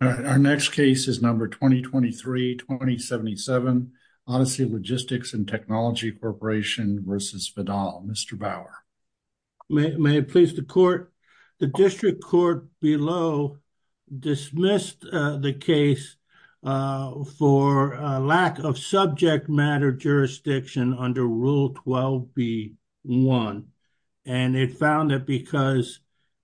Our next case is number 2023-2077, Odyssey Logistics & Technology Corp. v. Vidal. Mr. Bauer. May it please the Court? The District Court below dismissed the case for lack of subject matter jurisdiction under Rule 12b-1, and it found that because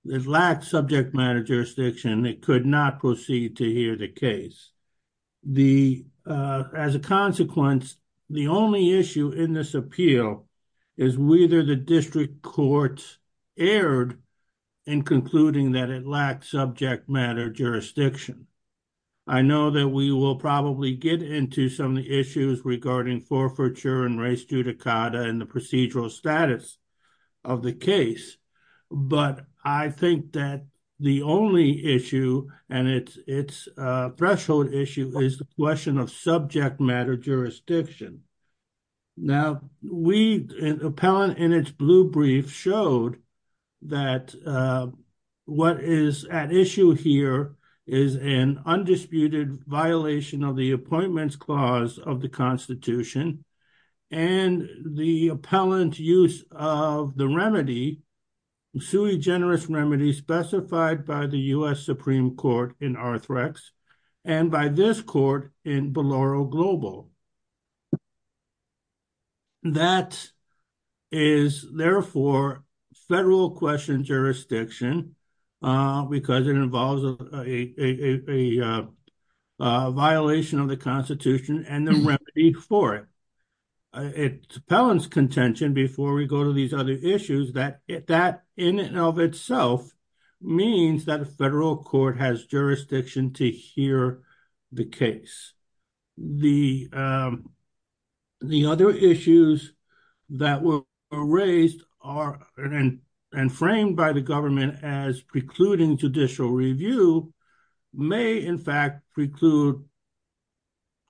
it lacked subject matter jurisdiction, it could not proceed to hear the case. As a consequence, the only issue in this appeal is whether the District Court erred in concluding that it lacked subject matter jurisdiction. I know that we will probably get into some of the issues regarding forfeiture and res judicata and the procedural status of the case, but I think that the only issue and its threshold issue is the question of subject matter jurisdiction. Now, we—an appellant in its blue brief showed that what is at issue here is an undisputed violation of the Appointments Clause of the Constitution and the appellant's use of the remedy—sui generis remedy—specified by the U.S. Supreme Court in Arthrex and by this court in Biloro Global. That is, therefore, federal question jurisdiction because it involves a violation of the Constitution and the remedy for it. It's appellant's contention, before we go to these other issues, that that in and of itself means that a federal court has jurisdiction to the case. The other issues that were raised and framed by the government as precluding judicial review may, in fact, preclude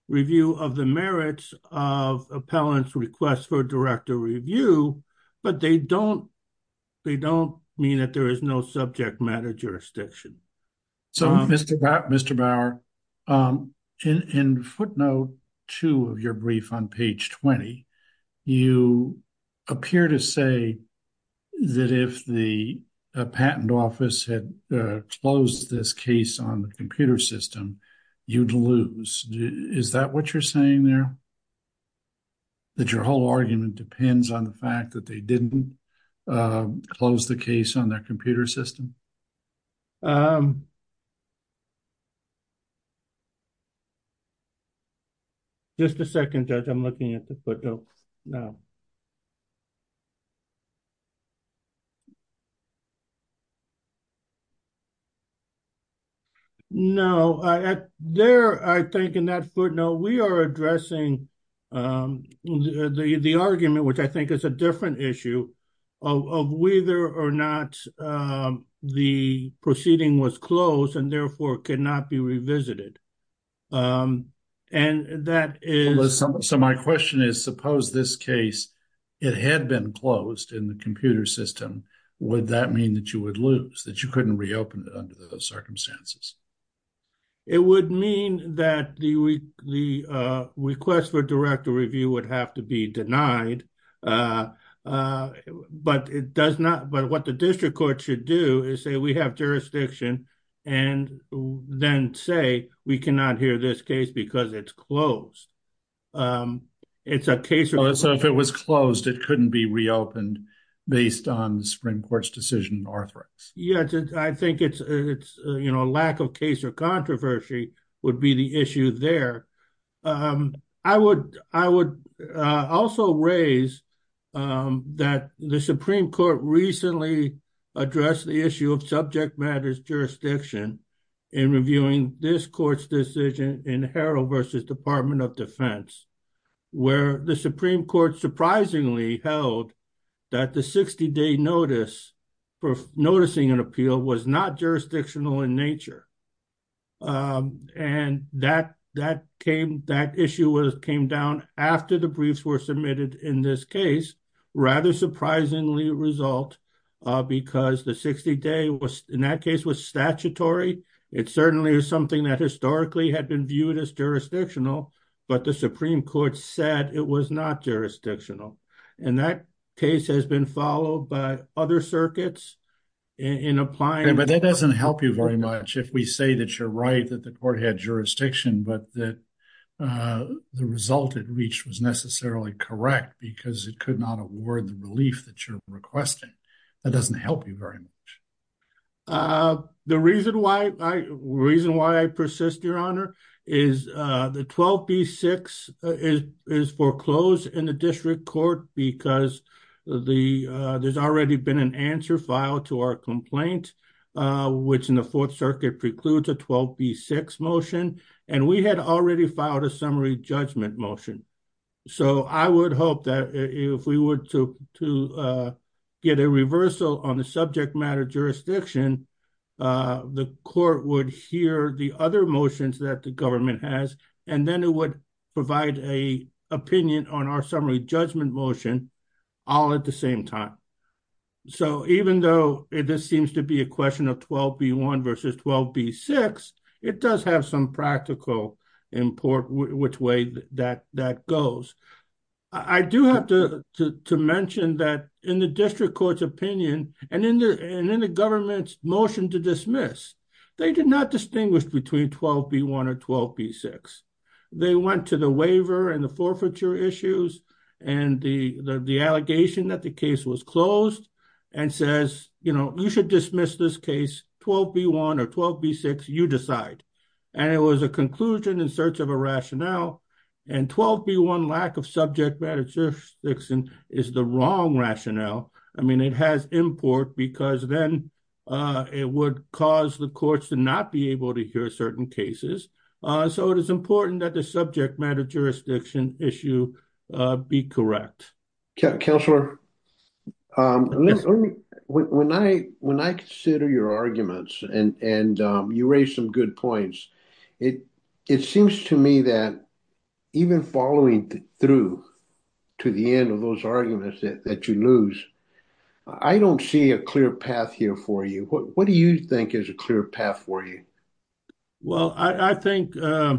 review of the merits of appellant's request for direct review, but they don't mean that there is no subject matter jurisdiction. So, Mr. Bauer, in footnote two of your brief on page 20, you appear to say that if the patent office had closed this case on the computer system, you'd lose. Is that what you're saying there? That your whole argument depends on the fact that they didn't close the case on their computer system? Just a second, Judge. I'm looking at the footnote now. No. There, I think, in that footnote, we are addressing the argument, which I think is a issue, of whether or not the proceeding was closed and, therefore, cannot be revisited. So, my question is, suppose this case, it had been closed in the computer system, would that mean that you would lose, that you couldn't reopen it under those circumstances? It would mean that the request for direct review would have to be denied. But what the district court should do is say, we have jurisdiction, and then say, we cannot hear this case because it's closed. So, if it was closed, it couldn't be reopened based on the Supreme Court's decision in Arthrex? Yeah. I think it's a lack of case or controversy would be the issue there. I would also raise that the Supreme Court recently addressed the issue of subject matters jurisdiction in reviewing this court's decision in Harrell v. Department of Defense, where the Supreme Court surprisingly held that the 60-day notice for noticing an appeal was not jurisdictional in nature. And that issue came down after the briefs were submitted in this case, rather surprisingly result, because the 60-day in that case was statutory. It certainly is something that historically had been viewed as jurisdictional, but the Supreme Court said it was not jurisdictional. And that case has been followed by other circuits in applying... But that doesn't help you very much if we say that you're right, that the court had jurisdiction, but that the result it reached was necessarily correct because it could not award the relief that you're requesting. That doesn't help you very much. The reason why I persist, Your Honor, is the 12B-6 is foreclosed in the district court because there's already been an answer filed to our complaint, which in the Fourth Circuit precludes a 12B-6 motion. And we had already filed a summary judgment motion. So I would hope that if we were to get a reversal on the subject matter jurisdiction, the court would hear the other motions that the government has, and then it provide an opinion on our summary judgment motion all at the same time. So even though this seems to be a question of 12B-1 versus 12B-6, it does have some practical import which way that goes. I do have to mention that in the district court's opinion and in the government's motion to dismiss, they did not distinguish between 12B-1 or 12B-6. They went to the waiver and the forfeiture issues and the allegation that the case was closed and says, you know, you should dismiss this case 12B-1 or 12B-6, you decide. And it was a conclusion in search of a rationale. And 12B-1 lack of subject matter jurisdiction is the wrong rationale. I mean, it has import because then it would cause the courts to not be able to hear certain cases. So it is important that the subject matter jurisdiction issue be correct. Counselor, when I consider your arguments and you raise some good points, it seems to me that even following through to the end of those arguments that you lose, I don't see a clear path here for you. What do you think is a clear path for you? Well, I think a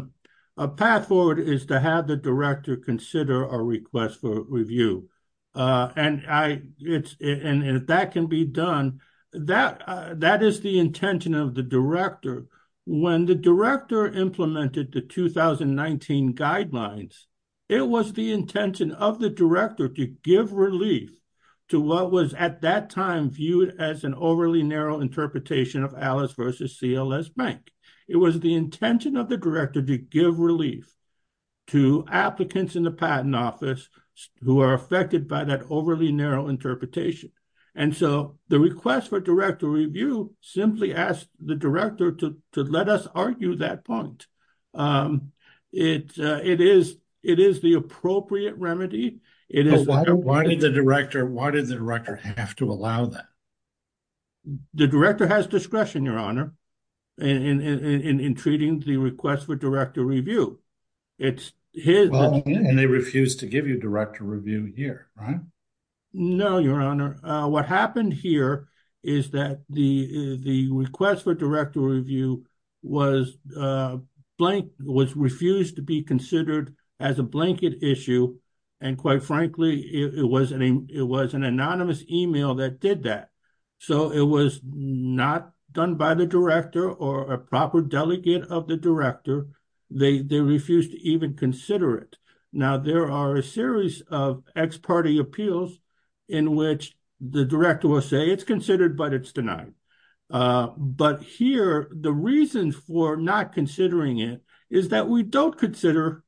path forward is to have the director consider a request for review. And that can be done. That is the intention of the director. When the director implemented the 2019 guidelines, it was the intention of the director to give relief to what was at that time viewed as an overly narrow interpretation of Alice v. CLS Bank. It was the intention of the director to give relief to applicants in the patent office who are affected by that overly narrow interpretation. And so the request for director review simply asked the director to let us argue that point. It is the appropriate remedy. Why did the director have to allow that? The director has discretion, Your Honor, in treating the request for director review. They refused to give you director review here, right? No, Your Honor. What happened here is that the request for director review was refused to be considered as a blanket issue. And quite frankly, it was an anonymous email that did that. So it was not done by the director or a proper delegate of the director. They refused to even consider it. Now, there are a series of ex parte appeals in which the director will say it's considered but it's denied. But here, the reason for not considering it is that we don't consider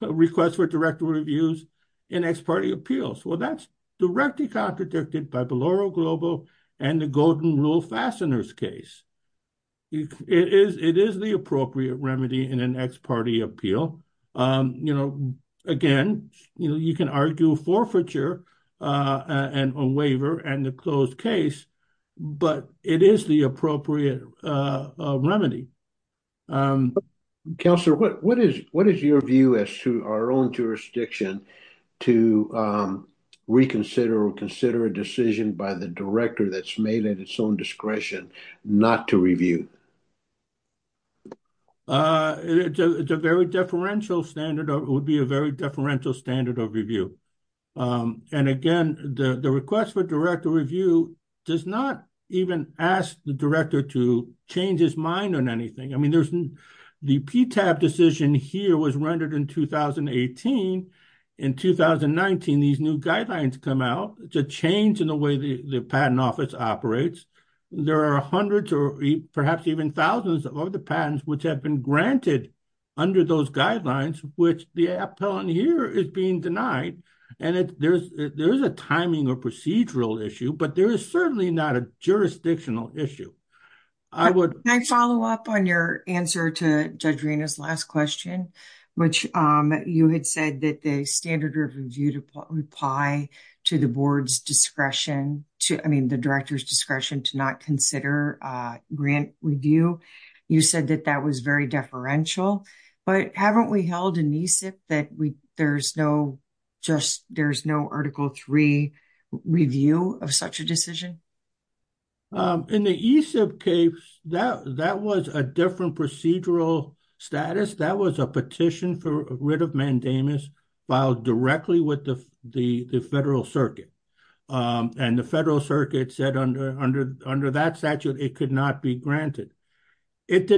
requests for director reviews in ex parte appeals. Well, that's directly contradicted by Biloro Global and the Golden Rule Fasteners case. It is the appropriate remedy in an ex parte appeal. You know, again, you can argue forfeiture on waiver and the closed case, but it is the appropriate remedy. Counselor, what is your view as to our own jurisdiction to reconsider or consider a decision by the director that's made at its own discretion not to review? It would be a very deferential standard of review. And again, the request for review does not even ask the director to change his mind on anything. I mean, the PTAB decision here was rendered in 2018. In 2019, these new guidelines come out. It's a change in the way the patent office operates. There are hundreds or perhaps even thousands of the patents which have been granted under those guidelines, which the appellant here is being denied. And there is a timing or procedural issue, but there is certainly not a jurisdictional issue. Can I follow up on your answer to Judge Rina's last question, which you had said that the standard of review would apply to the board's discretion to, I mean, the director's discretion to not consider grant review. You said that that was very deferential. But haven't we held that there's no Article III review of such a decision? In the ESIP case, that was a different procedural status. That was a petition for writ of mandamus filed directly with the federal circuit. And the federal circuit said under that statute, it could not be granted. It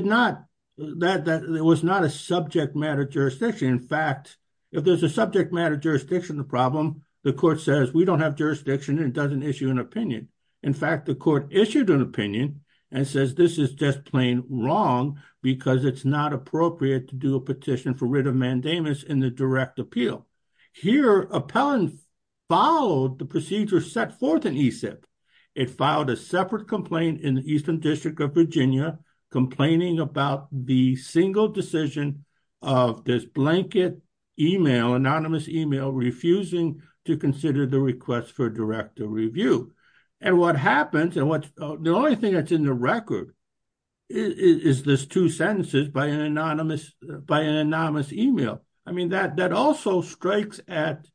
was not a subject matter jurisdiction. In fact, if there's a subject matter jurisdiction problem, the court says we don't have jurisdiction and doesn't issue an opinion. In fact, the court issued an opinion and says this is just plain wrong because it's not appropriate to do a petition for writ of mandamus in the direct appeal. Here, appellant followed the procedure set forth in ESIP. It filed a separate complaint in the Eastern District of Virginia complaining about the single decision of this blanket email, anonymous email, refusing to consider the request for direct review. And what happens, and the only thing that's in the record is this two sentences by an anonymous email. I mean, that also strikes at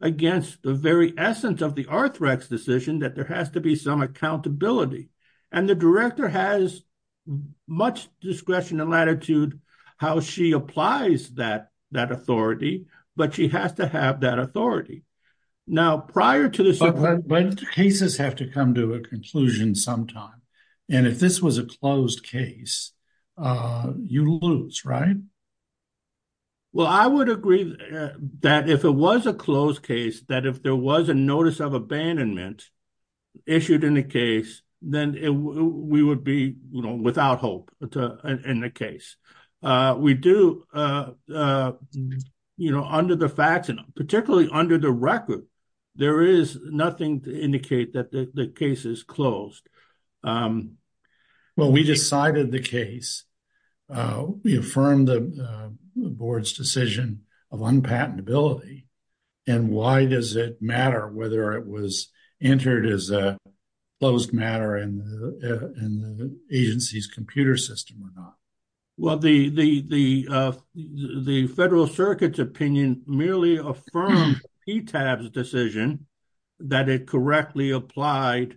against the very essence of the Arthrex decision that there has to be some accountability. And the director has much discretion and latitude how she applies that authority, but she has to have that authority. Now, prior to this- But cases have to come to a conclusion sometime. And if this was a closed case, you lose, right? Well, I would agree that if it was a closed case, that if there was a notice of abandonment issued in the case, then we would be without hope in the case. We do, you know, under the facts, and particularly under the record, there is nothing to indicate that the case is closed. Well, we decided the case. We affirmed the board's decision of unpatentability. And why does it matter whether it was entered as a closed matter in the agency's computer system or not? Well, the Federal Circuit's opinion merely affirmed PTAB's decision that it correctly applied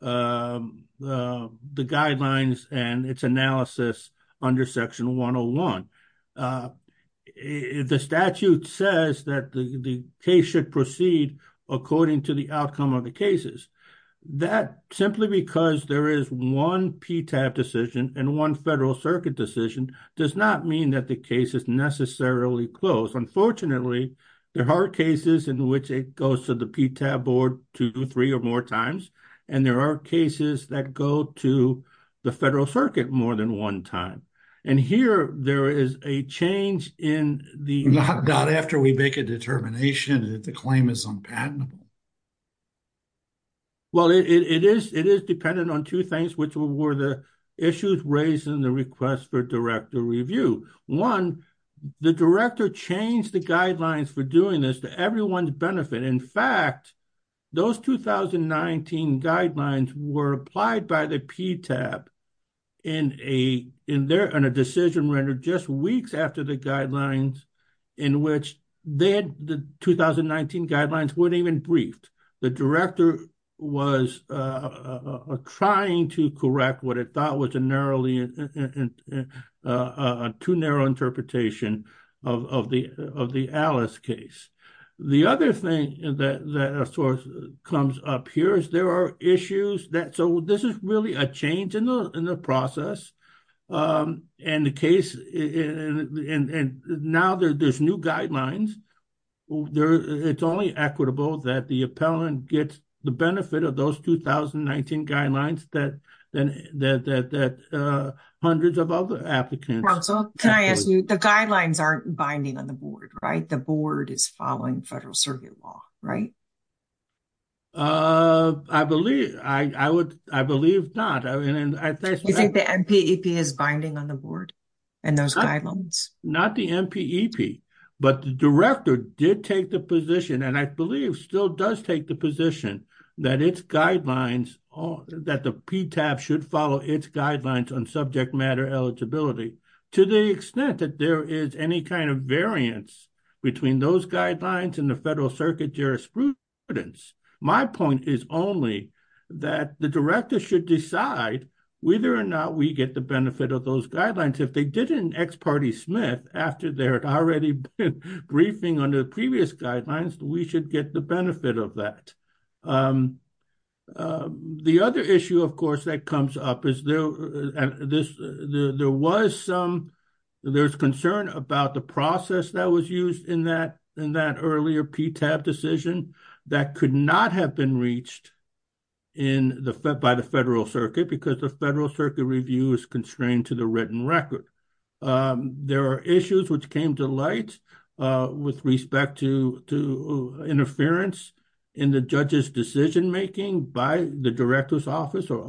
the guidelines and its analysis under Section 101. The statute says that the case should proceed according to the outcome of the cases. That simply because there is one PTAB decision and one Federal Circuit decision does not mean that the case is necessarily closed. Unfortunately, there are cases in which it goes to the PTAB three or more times, and there are cases that go to the Federal Circuit more than one time. And here, there is a change in the- Not after we make a determination that the claim is unpatentable. Well, it is dependent on two things, which were the issues raised in the request for director review. One, the director changed the guidelines for doing this to everyone's benefit. In fact, those 2019 guidelines were applied by the PTAB in a decision rendered just weeks after the guidelines in which the 2019 guidelines weren't even briefed. The director was trying to correct what it thought a too narrow interpretation of the Alice case. The other thing that comes up here is there are issues that- So, this is really a change in the process. And the case- And now, there's new guidelines. It's only equitable that the appellant gets the benefit of those 2019 guidelines that hundreds of other applicants- Can I ask you, the guidelines aren't binding on the board, right? The board is following Federal Circuit law, right? I believe not. I think- You think the MPEP is binding on the board and those guidelines? Not the MPEP, but the director did take the position, and I believe still does take the position that its guidelines- That the PTAB should follow its guidelines on subject matter eligibility. To the extent that there is any kind of variance between those guidelines and the Federal Circuit jurisprudence, my point is only that the director should decide whether or not we get the benefit of those guidelines. If they didn't, ex parte Smith, after they had already been briefing on the previous guidelines, we should get the benefit of that. The other issue, of course, that comes up is there was some- There's concern about the process that was used in that earlier PTAB decision that could not have been reached by the Federal Circuit because the Federal Circuit review is constrained to the written record. There are issues which came to light with respect to interference in the judge's decision-making by the director's office or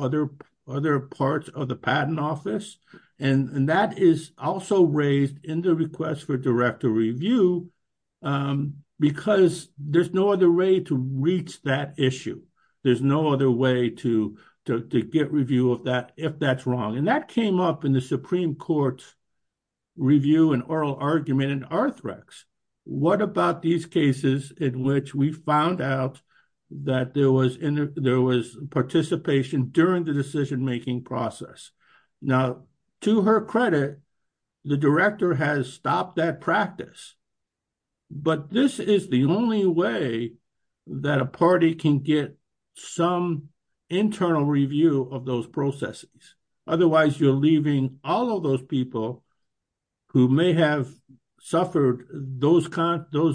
other parts of the patent office, and that is also raised in the request for director review because there's no other way to reach that issue. There's no other to get review of that if that's wrong, and that came up in the Supreme Court's review and oral argument in Arthrex. What about these cases in which we found out that there was participation during the decision-making process? Now, to her credit, the director has stopped that practice, but this is the only way that a party can get some internal review of those processes. Otherwise, you're leaving all of those people who may have suffered those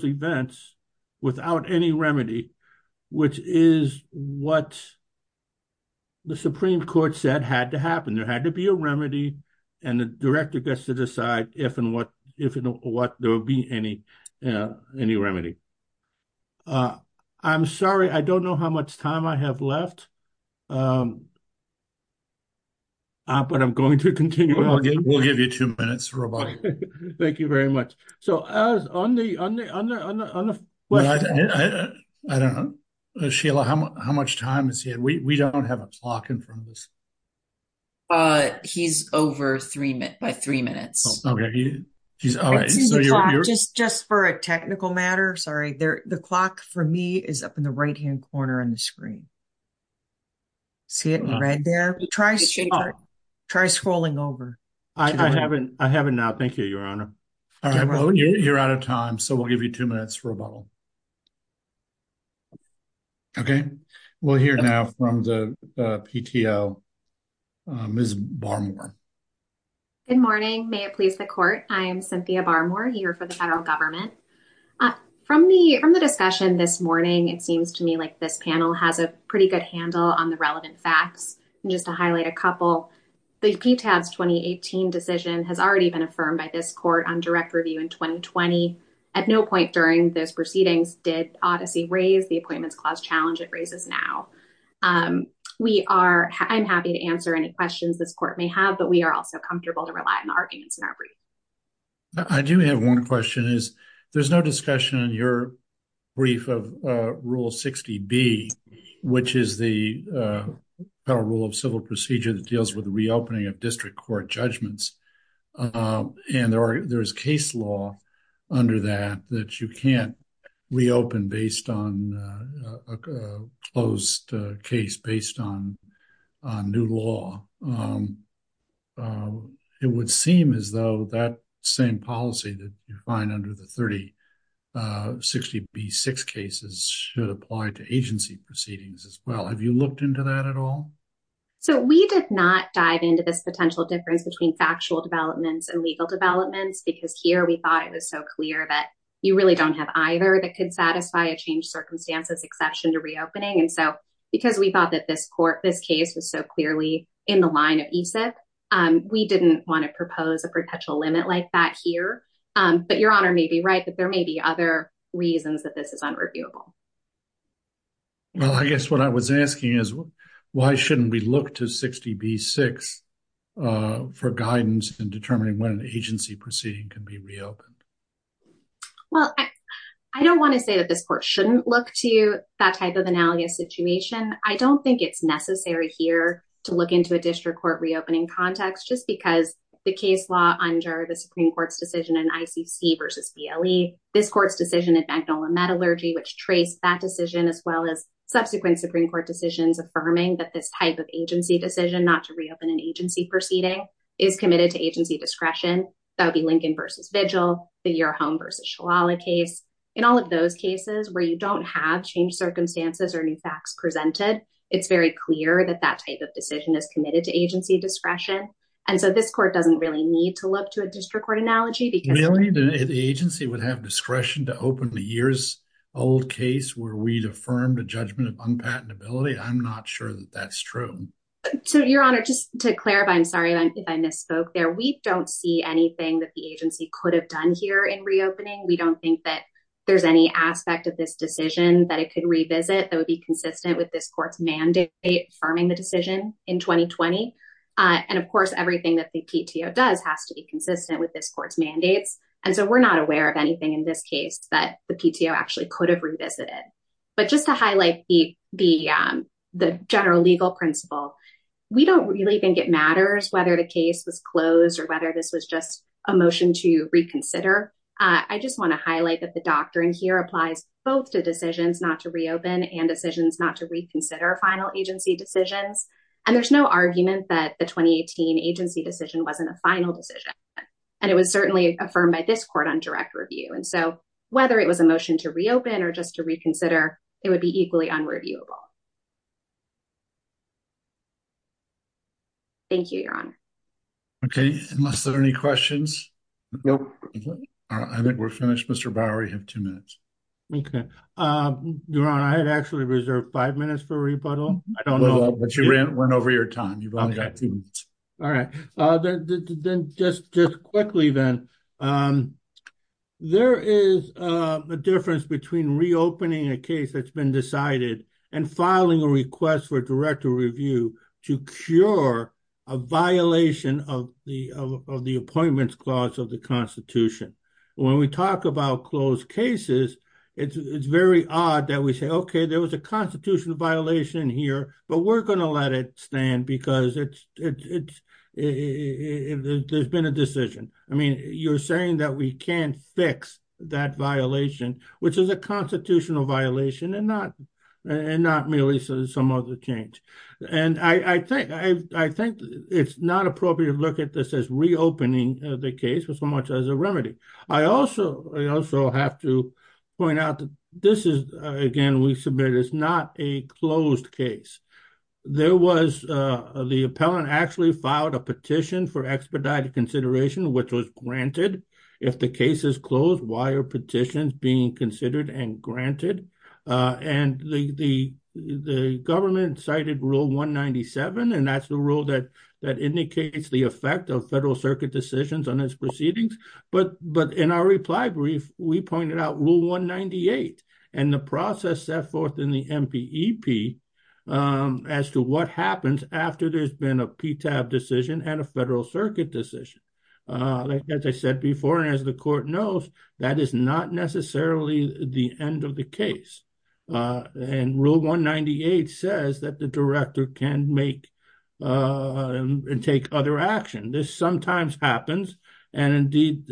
events without any remedy, which is what the Supreme Court said had to happen. There had to be a remedy, and the director gets to decide if and what there will be any remedy. I'm sorry. I don't know how much time I have left, but I'm going to continue. We'll give you two minutes, Roboto. Thank you very much. Sheila, how much time has he had? We don't have a clock in front of us. He's over by three minutes. Just for a technical matter, sorry. The clock for me is up in the right-hand corner on the screen. See it in red there? Try scrolling over. I have it now. Thank you, Your Honor. You're out of time, so we'll give you two minutes, Roboto. Okay. We'll hear now from the PTO, Ms. Barmore. Good morning. May it please the Court. I am Cynthia Barmore, here for the federal government. From the discussion this morning, it seems to me like this panel has a pretty good handle on the relevant facts. Just to highlight a couple, the PTAS 2018 decision has already been affirmed by this Court on direct review in 2020. At no point during those proceedings did Odyssey raise the Appointments Clause challenge it raises now. I'm happy to answer any questions this Court may have, but we are also comfortable to rely on the arguments in our brief. I do have one question. There's no discussion in your brief of Rule 60B, which is the Federal Rule of Civil Procedure that deals with the reopening of district court judgments. There is case law under that that you can't reopen based on a closed case based on new law. It would seem as though that same policy that you find under the 3060B6 cases should apply to agency proceedings as well. Have you looked into that at all? We did not dive into this potential difference between factual developments and legal developments because here we thought it was so clear that you really don't have either that could satisfy a changed circumstances exception to reopening. Because we thought that this case was so clearly in the line of ESIP, we didn't want to propose a perpetual limit like that here. Your Honor may be right, but there may be other reasons that this is unreviewable. Well, I guess what I was asking is why shouldn't we look to 60B6 for guidance in determining when an agency proceeding can be reopened? Well, I don't want to say that this Court shouldn't look to that type of analogous situation. I don't think it's necessary here to look into a district court reopening context just because the case law under the Supreme Court's decision in ICC versus BLE, this Court's decision in that decision as well as subsequent Supreme Court decisions affirming that this type of agency decision not to reopen an agency proceeding is committed to agency discretion. That would be Lincoln versus Vigil, the Your Home versus Shalala case. In all of those cases where you don't have changed circumstances or new facts presented, it's very clear that that type of decision is committed to agency discretion. And so this Court doesn't really need to look to a district court Really? The agency would have discretion to open a years old case where we'd affirmed a judgment of unpatentability? I'm not sure that that's true. So, Your Honor, just to clarify, I'm sorry if I misspoke there. We don't see anything that the agency could have done here in reopening. We don't think that there's any aspect of this decision that it could revisit that would be consistent with this Court's mandate affirming the decision in 2020. And, of course, everything that the PTO does has to be consistent with this Court's mandates. And so we're not aware of anything in this case that the PTO actually could have revisited. But just to highlight the general legal principle, we don't really think it matters whether the case was closed or whether this was just a motion to reconsider. I just want to highlight that the doctrine here applies both to decisions not to reopen and decisions not to reconsider final decisions. And there's no argument that the 2018 agency decision wasn't a final decision. And it was certainly affirmed by this Court on direct review. And so whether it was a motion to reopen or just to reconsider, it would be equally unreviewable. Thank you, Your Honor. Okay. Unless there are any questions? I think we're finished. Mr. Bowery, you have two minutes. Okay. Your Honor, I had actually reserved five minutes for rebuttal. I don't know, but you went over your time. All right. Then just quickly then, there is a difference between reopening a case that's been decided and filing a request for direct review to cure a violation of the appointments clause of the Constitution. When we talk about closed cases, it's very odd that we say, okay, there was a constitutional violation here, but we're going to let it stand because there's been a decision. I mean, you're saying that we can't fix that violation, which is a constitutional violation and not merely some other change. And I think it's not appropriate to look at this as reopening the case so much as a remedy. I also have to point out that again, we submitted, it's not a closed case. The appellant actually filed a petition for expedited consideration, which was granted. If the case is closed, why are petitions being considered and granted? And the government cited Rule 197, and that's the rule that indicates the effect of federal circuit decisions on its proceedings. But in our reply brief, we pointed out Rule 198 and the process set forth in the MPEP as to what happens after there's been a PTAB decision and a federal circuit decision. As I said before, and as the court knows, that is not necessarily the end of the case. And Rule 198 says that the director can make and take other action. This sometimes happens. And indeed,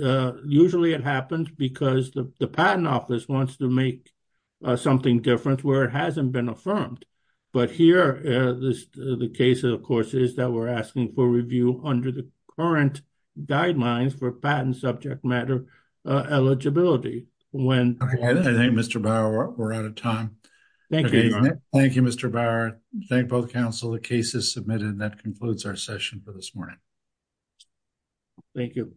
usually it happens because the Patent Office wants to make something different where it hasn't been affirmed. But here, the case, of course, is that we're asking for review under the current guidelines for patent subject matter eligibility. I think, Mr. Bauer, we're out of time. Thank you, Mr. Bauer. Thank you, both counsel. The case is submitted. That concludes our session for this morning. Thank you.